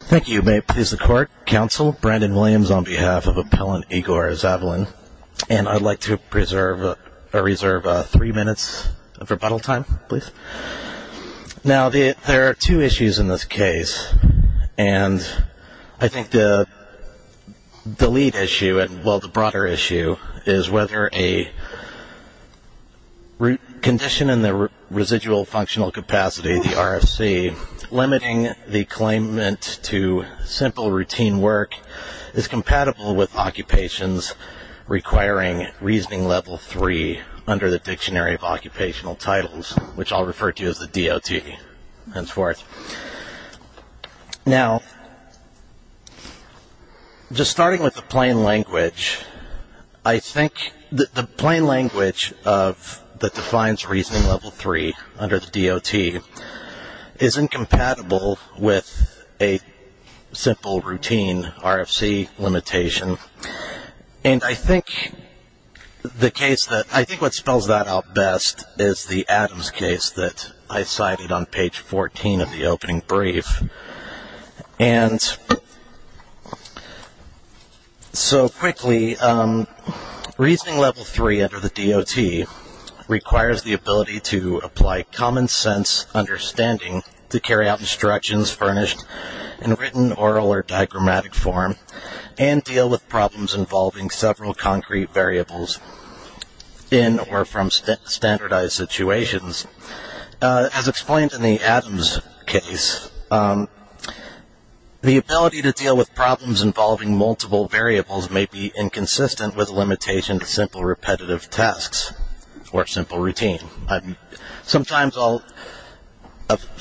Thank you. May it please the Court, Counsel Brandon Williams on behalf of Appellant Igor Zavalin and I'd like to reserve three minutes of rebuttal time, please. Now there are two issues in this case and I think the lead issue, well the broader issue, is whether a condition in the residual functional capacity, the RFC, limiting the claimant to simple routine work is compatible with occupations requiring Reasoning Level 3 under the Dictionary of Occupational Titles, which I'll refer to as the DOT, and so forth. Now, just starting with the plain language, I think the plain language that defines Reasoning Level 3 under the DOT is incompatible with a simple routine RFC limitation, and I think the case that I think what spells that out best is the Adams case that I cited on page 14 of the opening brief, and so quickly, Reasoning Level 3 under the DOT requires the ability to apply common sense understanding to carry out instructions furnished in written, oral, or diagrammatic form and deal with problems involving several concrete variables in or from standardized situations. As explained in the Adams case, the ability to deal with problems involving multiple variables may be inconsistent with simple repetitive tasks or simple routine. Sometimes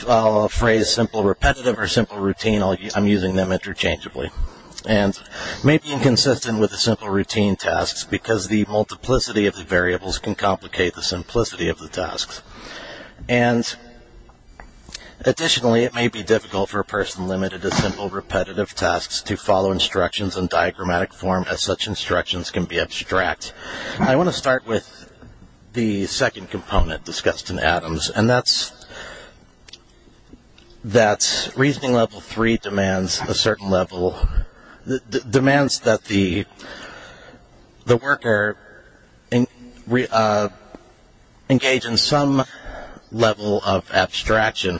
I'll phrase simple repetitive or simple routine, I'm using them interchangeably, and may be inconsistent with the simple routine tasks because the multiplicity of the variables can complicate the simplicity of the tasks, and additionally, it may be difficult for a person limited to simple repetitive tasks to instructions in diagrammatic form as such instructions can be abstract. I want to start with the second component discussed in Adams, and that's that Reasoning Level 3 demands a certain level, demands that the worker engage in some level of abstraction,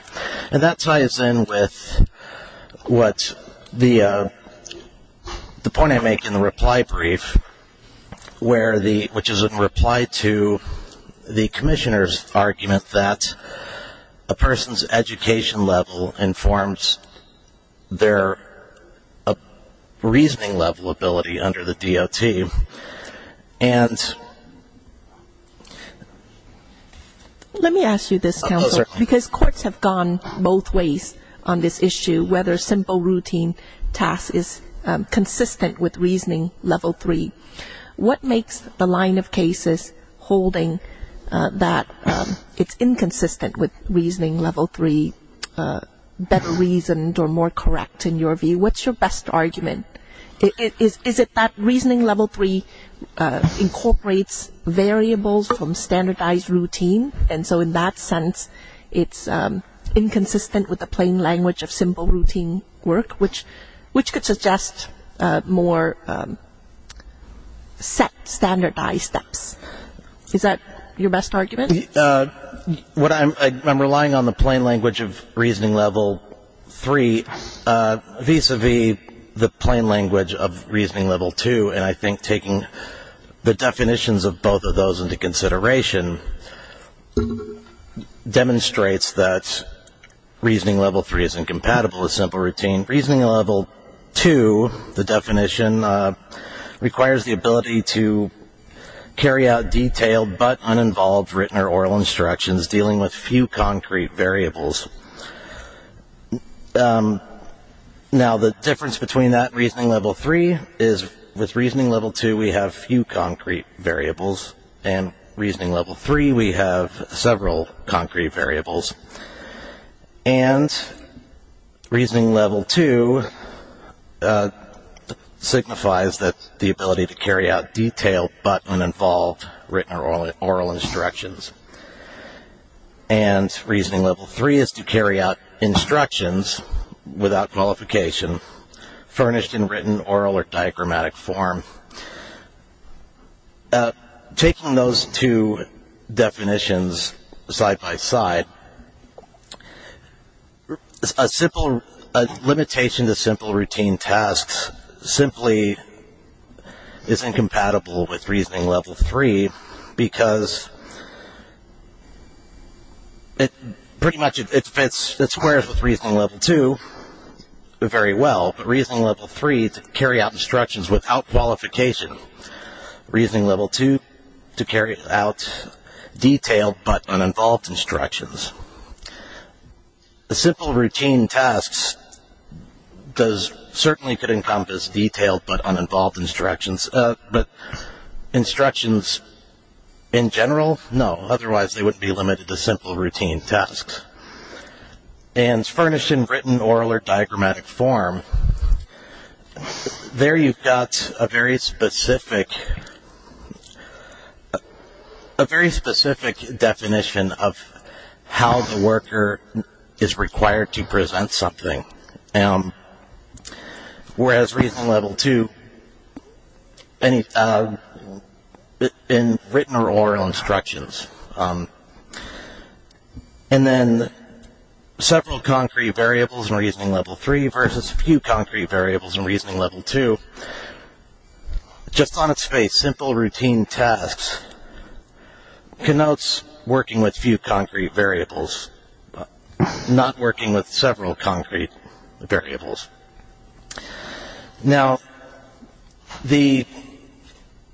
and that ties in with what the point I make in the reply brief where the, which is in reply to the Commissioner's argument that a person's education level informs their reasoning level ability under the DOT, and... Let me ask you this, Counselor, because courts have gone both ways on this issue, whether simple routine tasks is consistent with Reasoning Level 3. What makes the line of cases holding that it's inconsistent with Reasoning Level 3 better reasoned or more correct in your view? What's your best argument? Is it that Reasoning Level 3 incorporates variables from standardized routine, and so in that sense it's inconsistent with the plain language of simple routine? Is that your best argument? I'm relying on the plain language of Reasoning Level 3 vis-a-vis the plain language of Reasoning Level 2, and I think taking the definitions of both of those into consideration demonstrates that Reasoning Level 3 is incompatible with simple detailed but uninvolved written or oral instructions dealing with few concrete variables. Now the difference between that and Reasoning Level 3 is with Reasoning Level 2 we have few concrete variables, and Reasoning Level 3 we have several concrete variables, and Reasoning Level 2 signifies that the ability to carry out detailed but uninvolved written or oral instructions, and Reasoning Level 3 is to carry out instructions without qualification furnished in written, oral, or diagrammatic form. Now taking those two definitions side by side, a simple limitation to simple routine tasks simply is incompatible with Reasoning Level 3 because it pretty much it fits, it squares with Reasoning Level 2 very well, but Reasoning Level 3 to carry out instructions without qualification, Reasoning Level 2 to carry out detailed but uninvolved instructions. The simple routine tasks does certainly could encompass detailed but uninvolved instructions, but instructions in general, no, otherwise they wouldn't be limited to simple routine tasks. And furnished in written, oral, or diagrammatic form, there you've got a very specific, a very specific definition of how the worker is required to present something, whereas Reasoning Level 2, in written or oral instructions. And then several concrete variables in Reasoning Level 3 versus few concrete variables in Reasoning Level 2, just on its face, simple routine tasks connotes working with few concrete variables, not working with several concrete variables. Now, the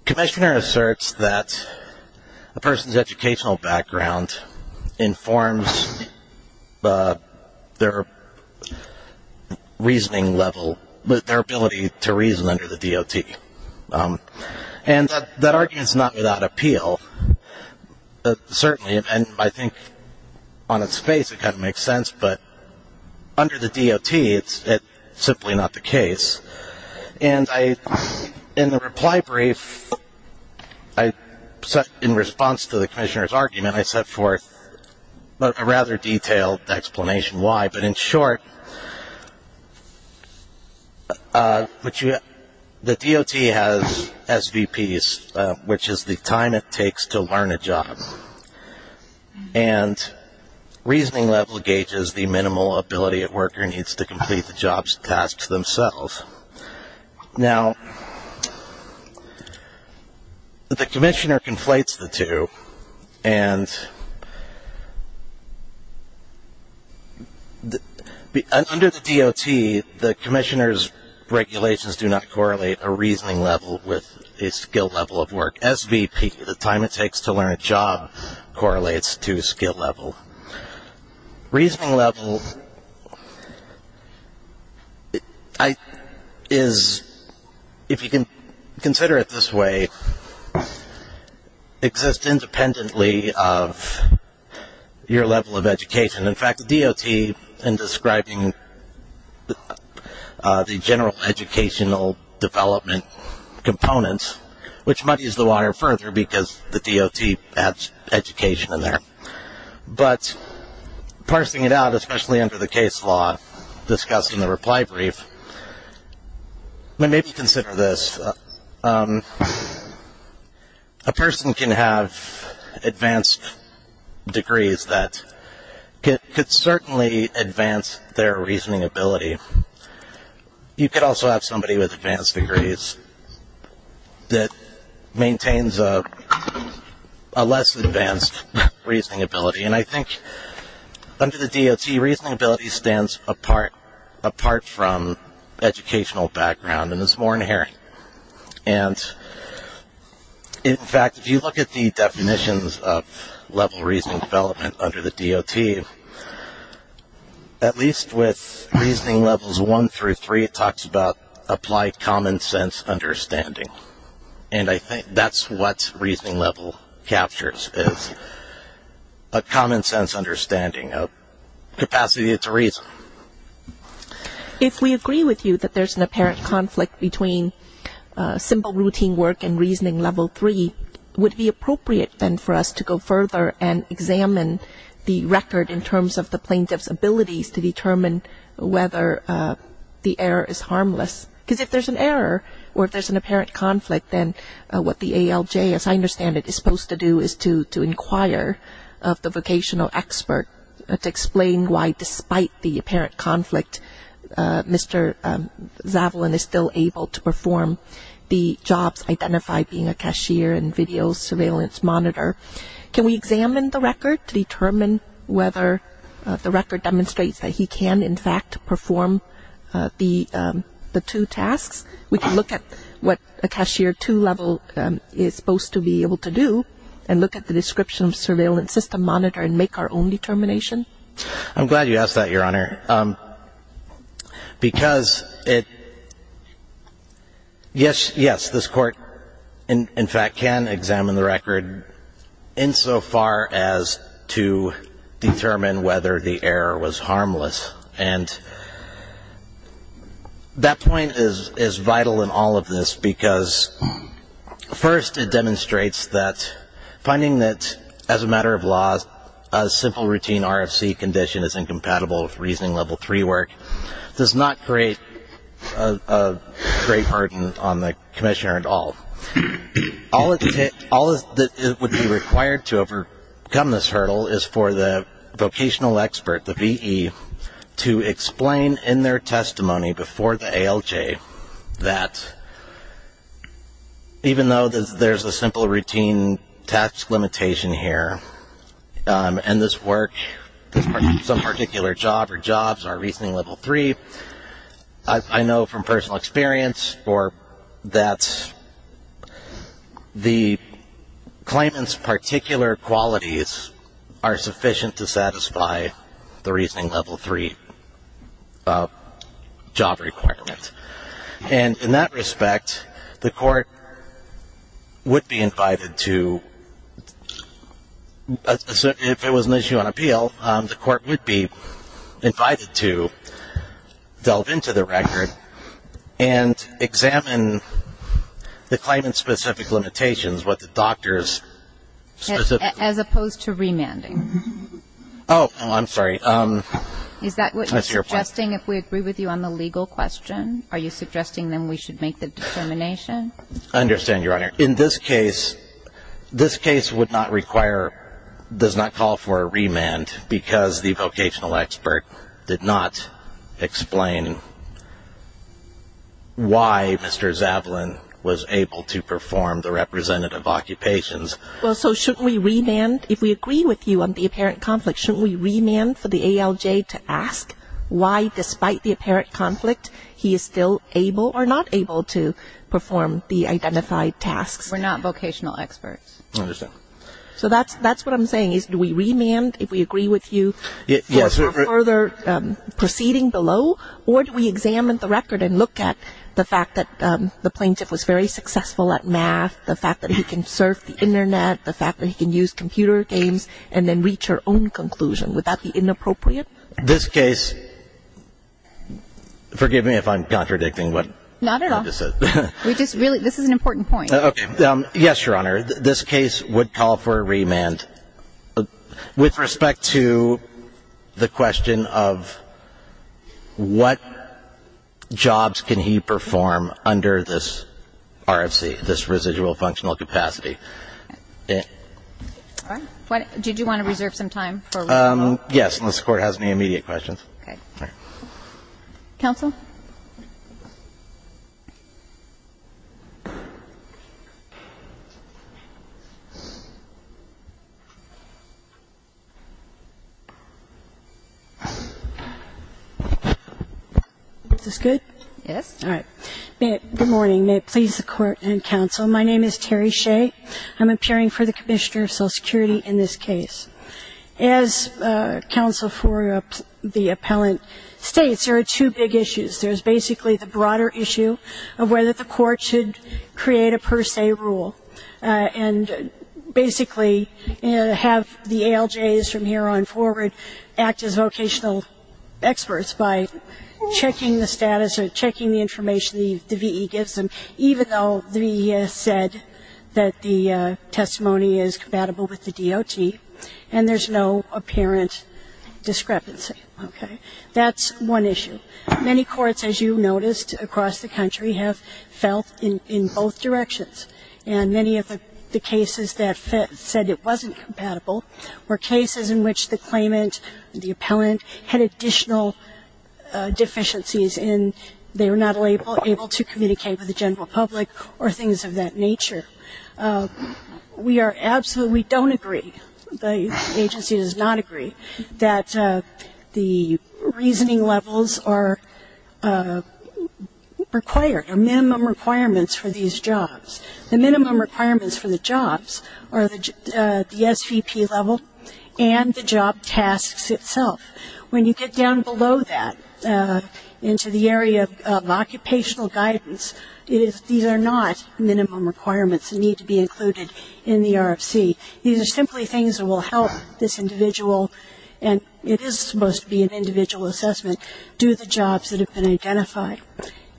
commissioner asserts that a person's educational background informs their reasoning level, their ability to reason under the DOT. And that argument's not without appeal, certainly, and I think on its face it kind of makes sense, but under the DOT it's simply not the case. And in the reply brief, in response to the commissioner's argument, I set forth a rather detailed explanation why, but in short, the DOT has SVPs, which is the time it takes to learn a job. And Reasoning Level gauges the minimal ability a worker needs to complete the job's tasks themselves. Now, the commissioner conflates the two, and under the DOT, the commissioner's regulations do not correlate a reasoning level with a skill level of work. SVP, the time it takes to learn a job, correlates to skill level. Reasoning level is, if you can consider it this way, exists independently of your level of education. In fact, the DOT, in describing the general educational development component, which muddies the water further because the DOT adds education in there, but parsing it out, especially under the case law discussed in the reply brief, maybe consider this. A person can have advanced degrees that could certainly advance their reasoning ability. You could also have somebody with advanced degrees that maintains a less advanced reasoning ability. And I think under the DOT, reasoning ability stands apart from educational background and is more inherent. And in fact, if you look at the Reasoning Levels 1 through 3, it talks about applied common sense understanding. And I think that's what Reasoning Level captures, is a common sense understanding of capacity to reason. If we agree with you that there's an apparent conflict between simple routine work and Reasoning Level 3, would it be appropriate then for us to go further and examine the record in terms of plaintiff's abilities to determine whether the error is harmless? Because if there's an error, or if there's an apparent conflict, then what the ALJ, as I understand it, is supposed to do is to inquire of the vocational expert to explain why, despite the apparent conflict, Mr. Zavalin is still able to perform the jobs identified, being a cashier and video surveillance monitor. Can we examine the record to determine whether the record demonstrates that he can, in fact, perform the two tasks? We can look at what a Cashier 2 level is supposed to be able to do and look at the Description of Surveillance System Monitor and make our own determination? I'm glad you asked that, Your Honor. Because, yes, this Court in fact can examine the record insofar as to determine whether the error was harmless. And that point is vital in all of this because, first, it demonstrates that finding that, as a matter of law, a simple routine RFC condition is incompatible with Reasoning Level 3 work does not create a great burden on the Commissioner at all. All that would be required to overcome this hurdle is for the vocational expert, the VE, to explain in their testimony before the ALJ that, even though there's a simple routine task limitation here, and this work, some particular job or jobs are Reasoning Level 3, I know from personal experience that the claimant's particular qualities are sufficient to satisfy the Reasoning Level 3 job requirement. And in that respect, the Court would be invited to if it was an issue on appeal, the Court would be invited to delve into the record and examine the claimant's specific limitations, what the doctor's... As opposed to remanding? Oh, I'm sorry. Is that what you're suggesting? If we agree with you on the legal question, are you suggesting then we should make the determination? I understand, Your Honor. In this case, this case would not require... does not call for a remand because the vocational expert did not explain why Mr. Zavalin was able to perform the representative occupations. Well, so shouldn't we remand? If we agree with you on the apparent conflict, shouldn't we remand for the ALJ to ask why, despite the apparent conflict, he is still able or not able to perform the identified tasks? We're not vocational experts. I understand. So that's what I'm saying, is do we remand if we agree with you for further proceeding below, or do we examine the record and look at the fact that the plaintiff was very successful at math, the fact that he can surf the internet, the fact that he can use computer games, and then reach our own conclusion? Would that be inappropriate? This case, forgive me if I'm contradicting what I just said. Not at all. This is an important point. Okay. Yes, Your Honor. This case would call for a remand with respect to the question of what jobs can he perform under this RFC, this residual functional capacity. Did you want to reserve some time? Yes, unless the Court has any immediate questions. Okay. All right. Counsel? Is this good? Yes. All right. Good morning. May it please the Court and Counsel, my name is Terry Shea. I'm appearing for the Commissioner of Social Security in this case. As counsel for the appellant states, there are two big issues. There's basically the broader issue of whether the Court should create a per se rule, and basically have the ALJs from here on forward act as vocational experts by checking the status or checking the information the VE gives them, even though the VE has said that the testimony is compatible with the DOT, and there's no apparent discrepancy. Okay. That's one issue. Many courts, as you noticed across the country, have felt in both directions, and many of the cases that said it wasn't compatible were cases in which the claimant, the appellant, had additional deficiencies in they were not able to communicate with the general public or things of that nature. We are absolutely, we don't agree, the agency does not agree, that the reasoning levels are required, are minimum requirements for these jobs. The minimum requirements for the jobs are the SVP level and the job tasks itself. When you get down below that into the area of occupational guidance, these are not minimum requirements that need to be included in the RFC. These are simply things that will help this individual, and it is supposed to be an individual assessment, do the jobs that have been identified.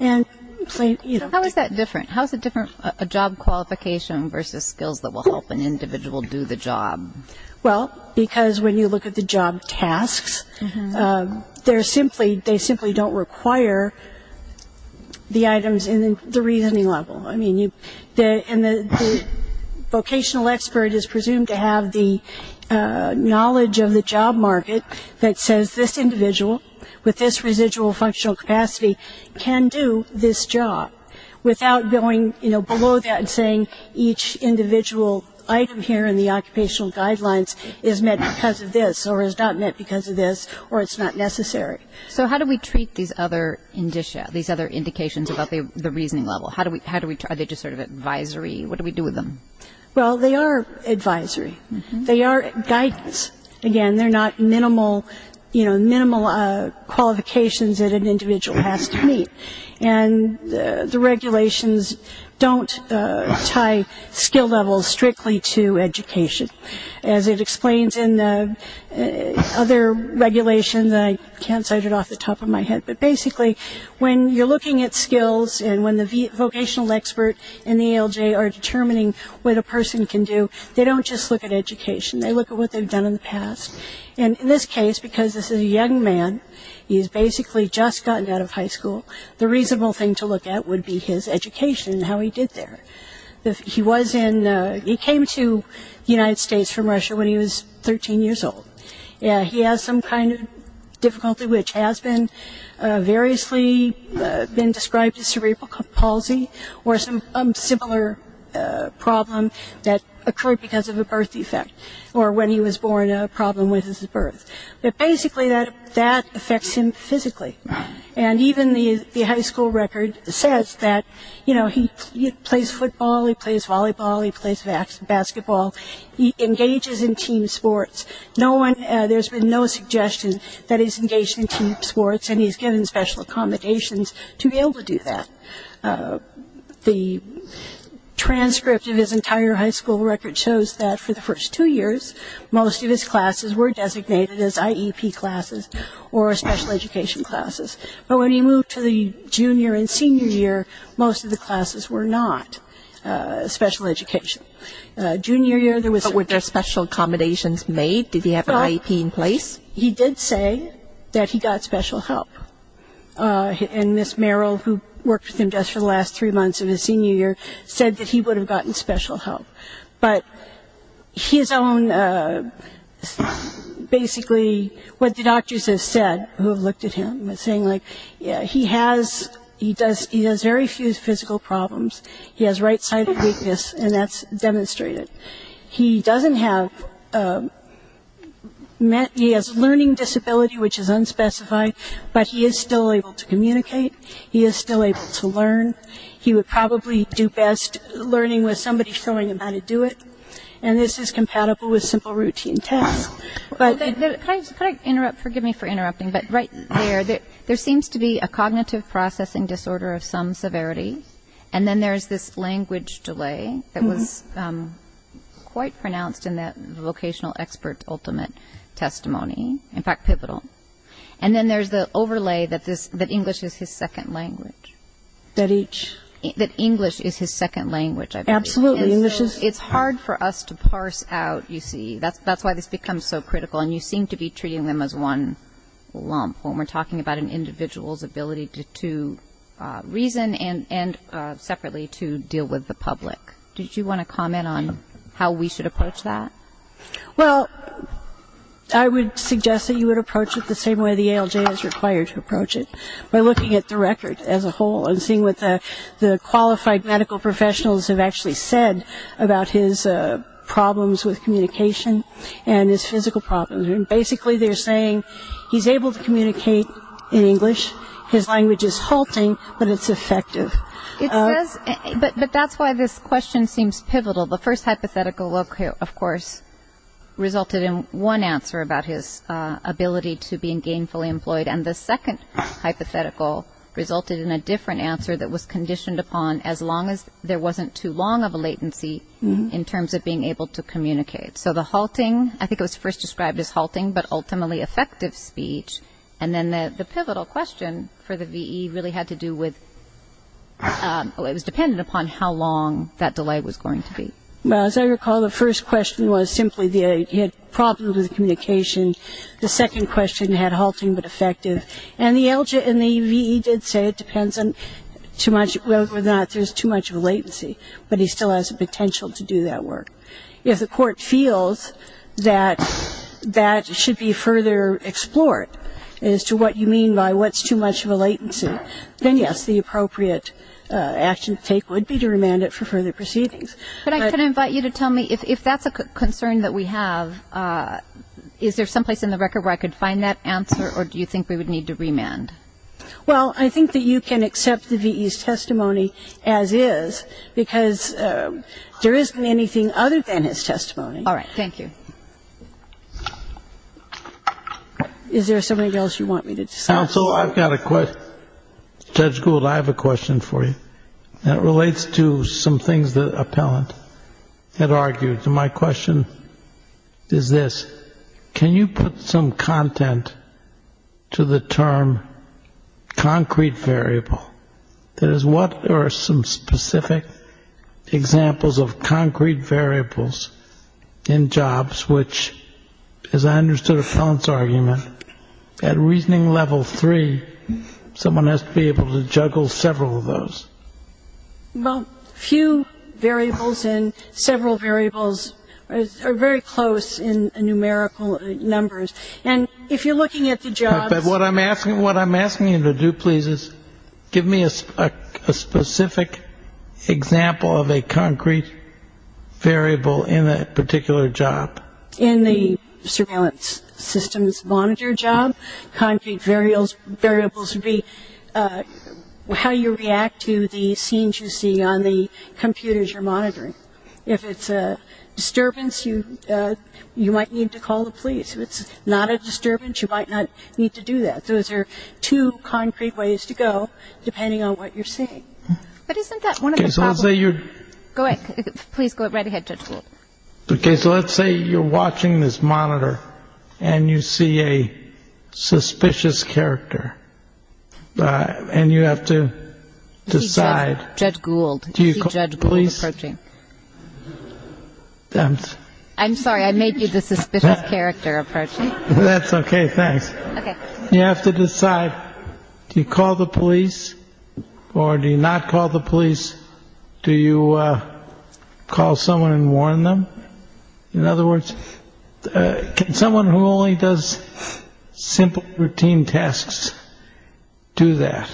And plain, you know. How is that different? How is it different, a job qualification versus skills that will help an individual do the job? Well, because when you look at the job tasks, they're simply, they simply don't require the items in the reasoning level. I mean, you, and the vocational expert is presumed to have the knowledge of the job market that says this individual with this residual functional capacity can do this job without going, you know, below that and saying each individual item here in the occupational guidelines is met because of this or is not met because of this or it's not necessary. So how do we treat these other indicia, these other indications about the reasoning level? How do we, are they just sort of advisory? What do we do with them? Well, they are advisory. They are guidance. Again, they're not minimal, you know, tie skill levels strictly to education. As it explains in the other regulations, I can't cite it off the top of my head, but basically when you're looking at skills and when the vocational expert and the ALJ are determining what a person can do, they don't just look at education. They look at what they've done in the past. And in this case, because this is a young man, he's basically just gotten out of high school, the reasonable thing to look at would be his education and how he did there. He was in, he came to the United States from Russia when he was 13 years old. He has some kind of difficulty which has been variously been described as cerebral palsy or some similar problem that occurred because of a birth defect or when he was born a problem with his birth. But basically that affects him physically. And even the high school record says that, you know, he plays football, he plays volleyball, he plays basketball, he engages in team sports. No one, there's been no suggestion that he's engaged in team sports and he's given special accommodations to be able to do that. The transcript of his entire high school record shows that for the first two years, most of his classes were designated as IEP classes or special education classes. But when he moved to the junior and senior year, most of the classes were not special education. Junior year, there was But were there special accommodations made? Did he have an IEP in place? He did say that he got special help. And Miss Merrill, who worked with him just for the last three months of his senior year, said that he would have gotten special help. But his own basically what the doctors have said who have looked at him, saying like, yeah, he has, he does, he has very few physical problems. He has right-sided weakness and that's demonstrated. He doesn't have met, he has learning disability, which is unspecified, but he is still able to communicate. He is still able to learn. He would probably do best learning with somebody showing him how to do it. And this is compatible with simple routine tasks. But can I interrupt? Forgive me for interrupting. But right there, there seems to be a cognitive processing disorder of some severity. And then there's this language delay that was quite pronounced in that vocational expert ultimate testimony. In fact, pivotal. And then there's the overlay that this that English is his second language. That each. That English is his second language. Absolutely. It's hard for us to parse out, you see. That's why this becomes so critical. And you seem to be treating them as one lump when we're talking about an individual's ability to reason and separately to deal with the public. Did you want to comment on how we should approach that? Well, I would suggest that you would approach it by looking at the record as a whole and seeing what the qualified medical professionals have actually said about his problems with communication and his physical problems. And basically they're saying he's able to communicate in English. His language is halting, but it's effective. But that's why this question seems pivotal. The first hypothetical, of course, resulted in one answer about his ability to being gainfully employed. And the second hypothetical resulted in a different answer that was conditioned upon as long as there wasn't too long of a latency in terms of being able to communicate. So the halting, I think it was first described as halting, but ultimately effective speech. And then the pivotal question for the VE really had to do with it was dependent upon how long that delay was going to be. Well, as I recall, the first question was simply he had problems with communication. The second question had halting but effective. And the VE did say it depends on whether or not there's too much of a latency. But he still has the potential to do that work. If the court feels that that should be further explored as to what you mean by what's too much of a latency, then yes, the appropriate action to take would be to remand it for further proceedings. But I can invite you to tell me if that's a concern that we have, is there some place in the record where I could find that answer, or do you think we would need to remand? Well, I think that you can accept the VE's testimony as is, because there isn't anything other than his testimony. All right. Thank you. Is there something else you want me to discuss? Counsel, I've got a question. Judge Gould, I have a question for you, and it relates to some things that Appellant had argued. My question is this. Can you put some content to the term concrete variable? There is what are some specific examples of concrete variables in jobs, which, as I understood Appellant's argument, at reasoning level three, someone has to be able to juggle several of those. Well, few variables and several variables are very close in numerical numbers. And if you're looking at the jobs. But what I'm asking what I'm asking you to do, please, is give me a specific example of a concrete variable in that particular job. In the surveillance systems monitor job, concrete variables would be how you react to the scenes you see on the computers you're monitoring. If it's a disturbance, you might need to call the police. If it's not a disturbance, you might not need to do that. Those are two concrete ways to go, depending on what you're saying. But isn't that one of those things that you're going? Please go right ahead. Because let's say you're watching this monitor and you see a suspicious character and you have to decide, Judge Gould, do you judge police? I'm sorry, I made you this character approach. That's OK. Thanks. You have to decide. Do you call the police or do you not call the police? Do you call someone and warn them? In other words, can someone who only does simple routine tasks do that?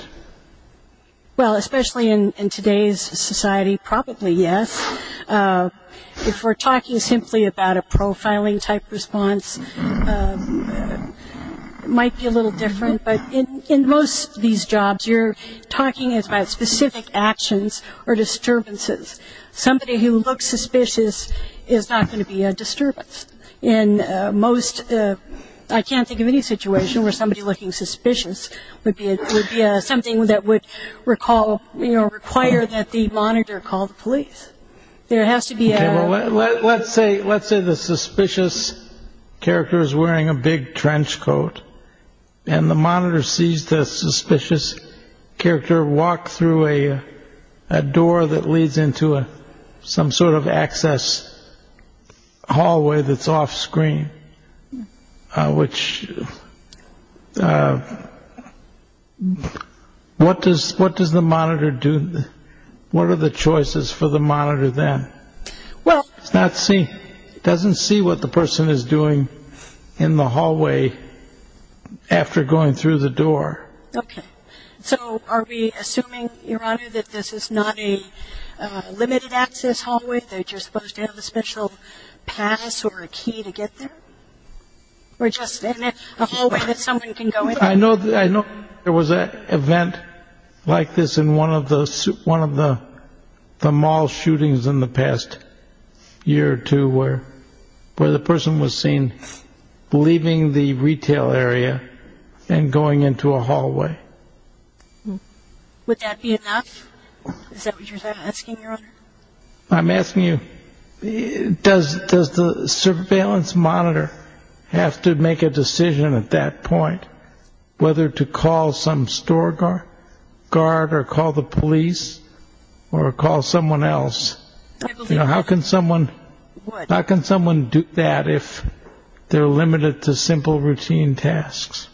Well, especially in today's society, probably yes. If we're talking simply about a profiling type response, it might be a little different. But in most of these jobs, you're talking about specific actions or disturbances. Somebody who looks suspicious is not going to be a disturbance. In most, I can't think of any situation where somebody looking suspicious would be something that would require that the monitor call the police. There has to be. Let's say let's say the suspicious character is wearing a big trench coat and the monitor sees the suspicious character walk through a door that leads into a some sort of access hallway that's off screen, which. What does what does the monitor do? What are the choices for the monitor then? Well, let's see. It doesn't see what the person is doing in the hallway after going through the door. OK. So are we assuming, Your Honor, that this is not a limited access hallway? They're just supposed to have a special pass or a key to get there? We're just in a hallway that someone can go in. I know I know there was an event like this in one of the one of the the mall shootings in the past year or two where where the person was seen leaving the retail area and going into a hallway. Would that be enough? Is that what you're asking, Your Honor? I'm asking you, does does the surveillance monitor have to make a decision at that point whether to call some store guard guard or call the police or call someone else? You know, how can someone how can someone do that if they're limited to simple routine tasks?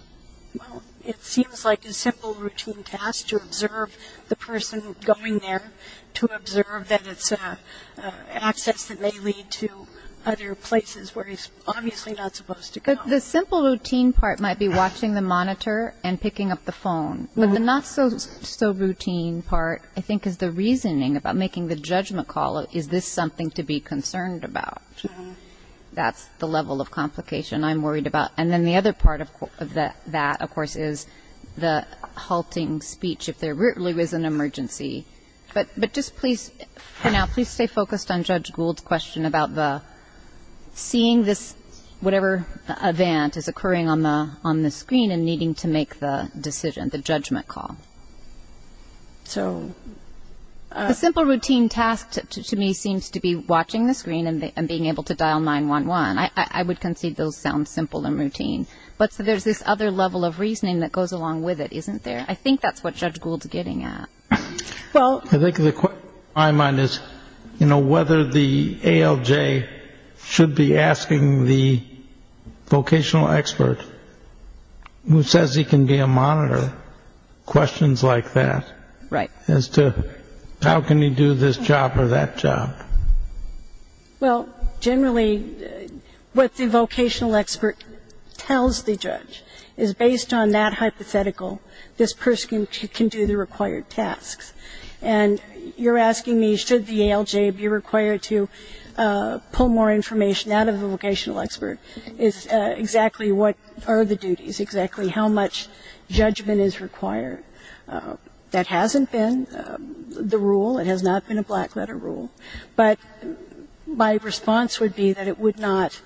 Well, it seems like a simple routine task to observe the person going there to observe that it's access that may lead to other places where he's obviously not supposed to go. The simple routine part might be watching the monitor and picking up the phone, but the not so so routine part, I think, is the reasoning about making the judgment call. Is this something to be concerned about? That's the level of complication I'm worried about. And then the other part of that, of course, is the halting speech if there really was an emergency. But but just please for now, please stay focused on Judge Gould's question about the seeing this whatever event is occurring on the on the screen and needing to make the decision, the judgment call. So a simple routine task to me seems to be watching the screen and being able to and routine. But there's this other level of reasoning that goes along with it, isn't there? I think that's what Judge Gould's getting at. Well, I think the question in my mind is, you know, whether the ALJ should be asking the vocational expert who says he can be a monitor questions like that. Right. As to how can he do this job or that job? Well, generally, what the vocational expert tells the judge is based on that hypothetical, this person can do the required tasks. And you're asking me, should the ALJ be required to pull more information out of the vocational expert? It's exactly what are the duties, exactly how much judgment is required. That hasn't been the rule. It has not been a black letter rule. But my response would be that it would not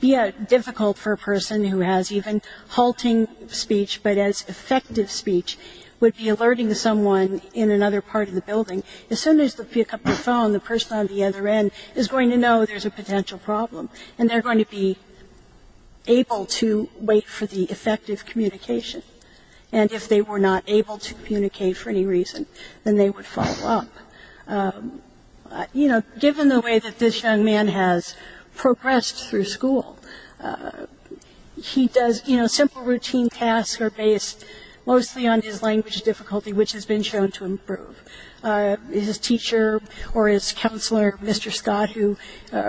be a difficult for a person who has even halting speech, but as effective speech would be alerting to someone in another part of the building. As soon as they pick up the phone, the person on the other end is going to know there's a potential problem and they're going to be able to wait for the effective communication. And if they were not able to communicate for any reason, then they would follow up. You know, given the way that this young man has progressed through school, he does, you know, simple routine tasks are based mostly on his language difficulty, which has been shown to improve. His teacher or his counselor, Mr. Scott, who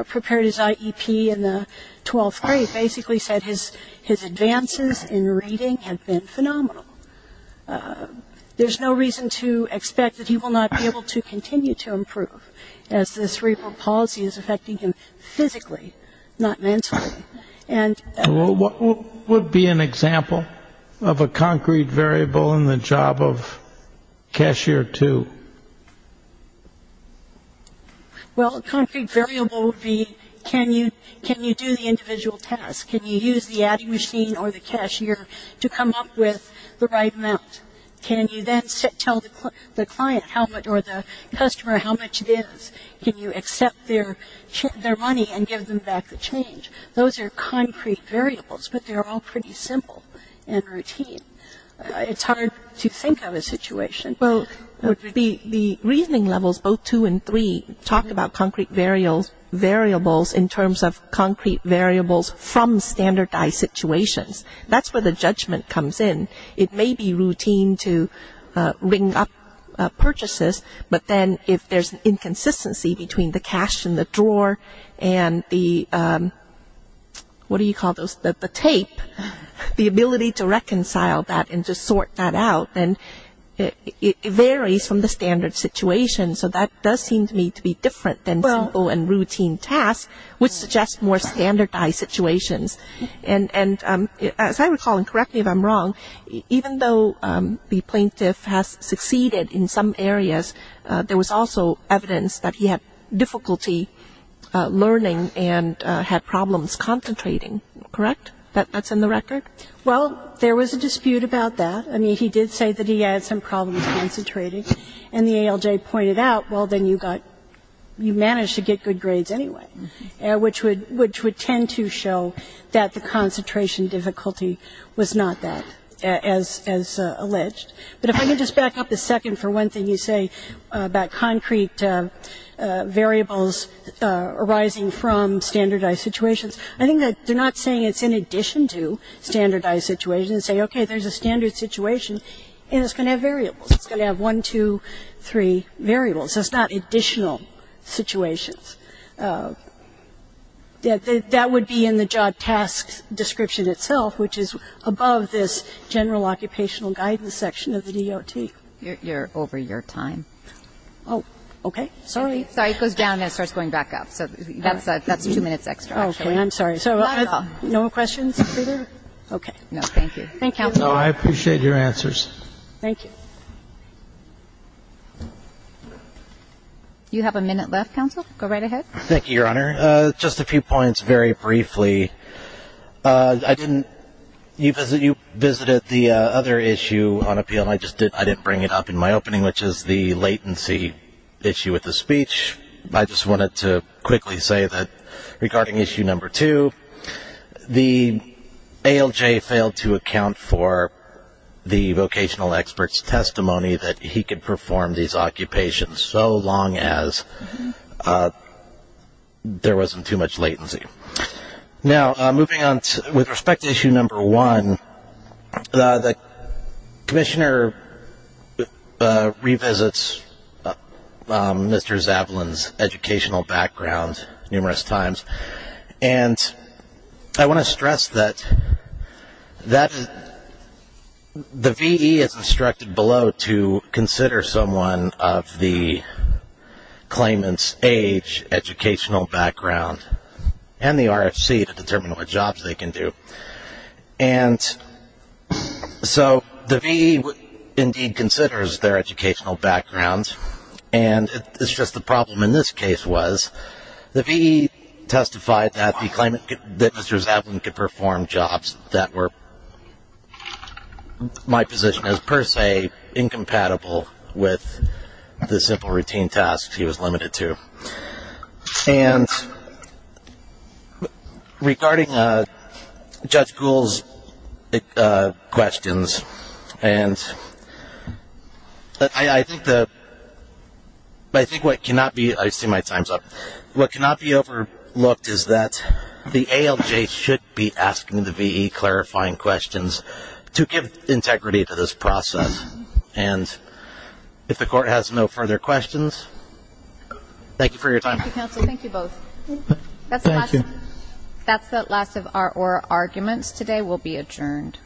prepared his IEP in the 12th grade, basically said his advances in reading have been phenomenal. There's no reason to expect that he will not be able to continue to improve, as this repro policy is affecting him physically, not mentally. And what would be an example of a concrete variable in the job of cashier two? Well, a concrete variable would be, can you do the individual tasks? Can you use the adding machine or the cashier to come up with the right amount? Can you then tell the client how much or the customer how much it is? Can you accept their money and give them back the change? Those are concrete variables, but they're all pretty simple and routine. It's hard to think of a situation. Well, the reasoning levels, both two and three, talk about concrete variables in terms of concrete variables from standardized situations. That's where the judgment comes in. It may be routine to ring up purchases, but then if there's an inconsistency between the cash in the drawer and the, what do you call those, the tape, the ability to reconcile that and to sort that out, then it varies from the standard situation. So that does seem to me to be different than simple and routine tasks, which suggest more standardized situations. And as I recall, and correct me if I'm wrong, even though the plaintiff has succeeded in some areas, there was also evidence that he had difficulty learning and had problems concentrating, correct? That's in the record? Well, there was a dispute about that. I mean, he did say that he had some problems concentrating, and the ALJ pointed out, well, then you got, you managed to get good grades anyway, which would, which would tend to show that the concentration difficulty was not that, as alleged. But if I can just back up a second for one thing you say about concrete variables arising from standardized situations, I think that they're not saying it's in addition to standardized situations. They say, okay, there's a standard situation, and it's going to have variables. It's going to have one, two, three variables. So it's not additional situations. That would be in the job task description itself, which is above this general occupational guidance section of the DOT. You're over your time. Oh, okay. Sorry. Sorry. It goes down and it starts going back up. So that's two minutes extra, actually. Okay. I'm sorry. Not at all. No more questions, Peter? Okay. No, thank you. Thank you, counsel. No, I appreciate your answers. Thank you. You have a minute left, counsel. Go right ahead. Thank you, Your Honor. Just a few points very briefly. I didn't, you visited the other issue on appeal, and I just didn't, I didn't bring it up in my opening, which is the latency issue with the speech. I just wanted to quickly say that regarding issue number two, the ALJ failed to account for the vocational expert's testimony that he could perform these occupations so long as there wasn't too much latency. Now, moving on, with respect to issue number one, the commissioner revisits Mr. Zavalin's educational background numerous times, and I want to stress that the V.E. is instructed below to consider someone of the claimant's age, educational background, and the RFC to determine what jobs they can do. And so the V.E. indeed considers their educational background, and it's just the problem in this case was the V.E. testified that the claimant, that Mr. Zavalin could perform jobs that were my position as per se incompatible with the simple routine tasks he was limited to. And regarding Judge Gould's questions, and I think what cannot be, I see my time's up, what cannot be overlooked is that the ALJ should be asking the V.E. clarifying questions to give integrity to this process, and if the court has no further questions, thank you for your time. Thank you, counsel. Thank you both. That's the last of our arguments today. We'll be adjourned.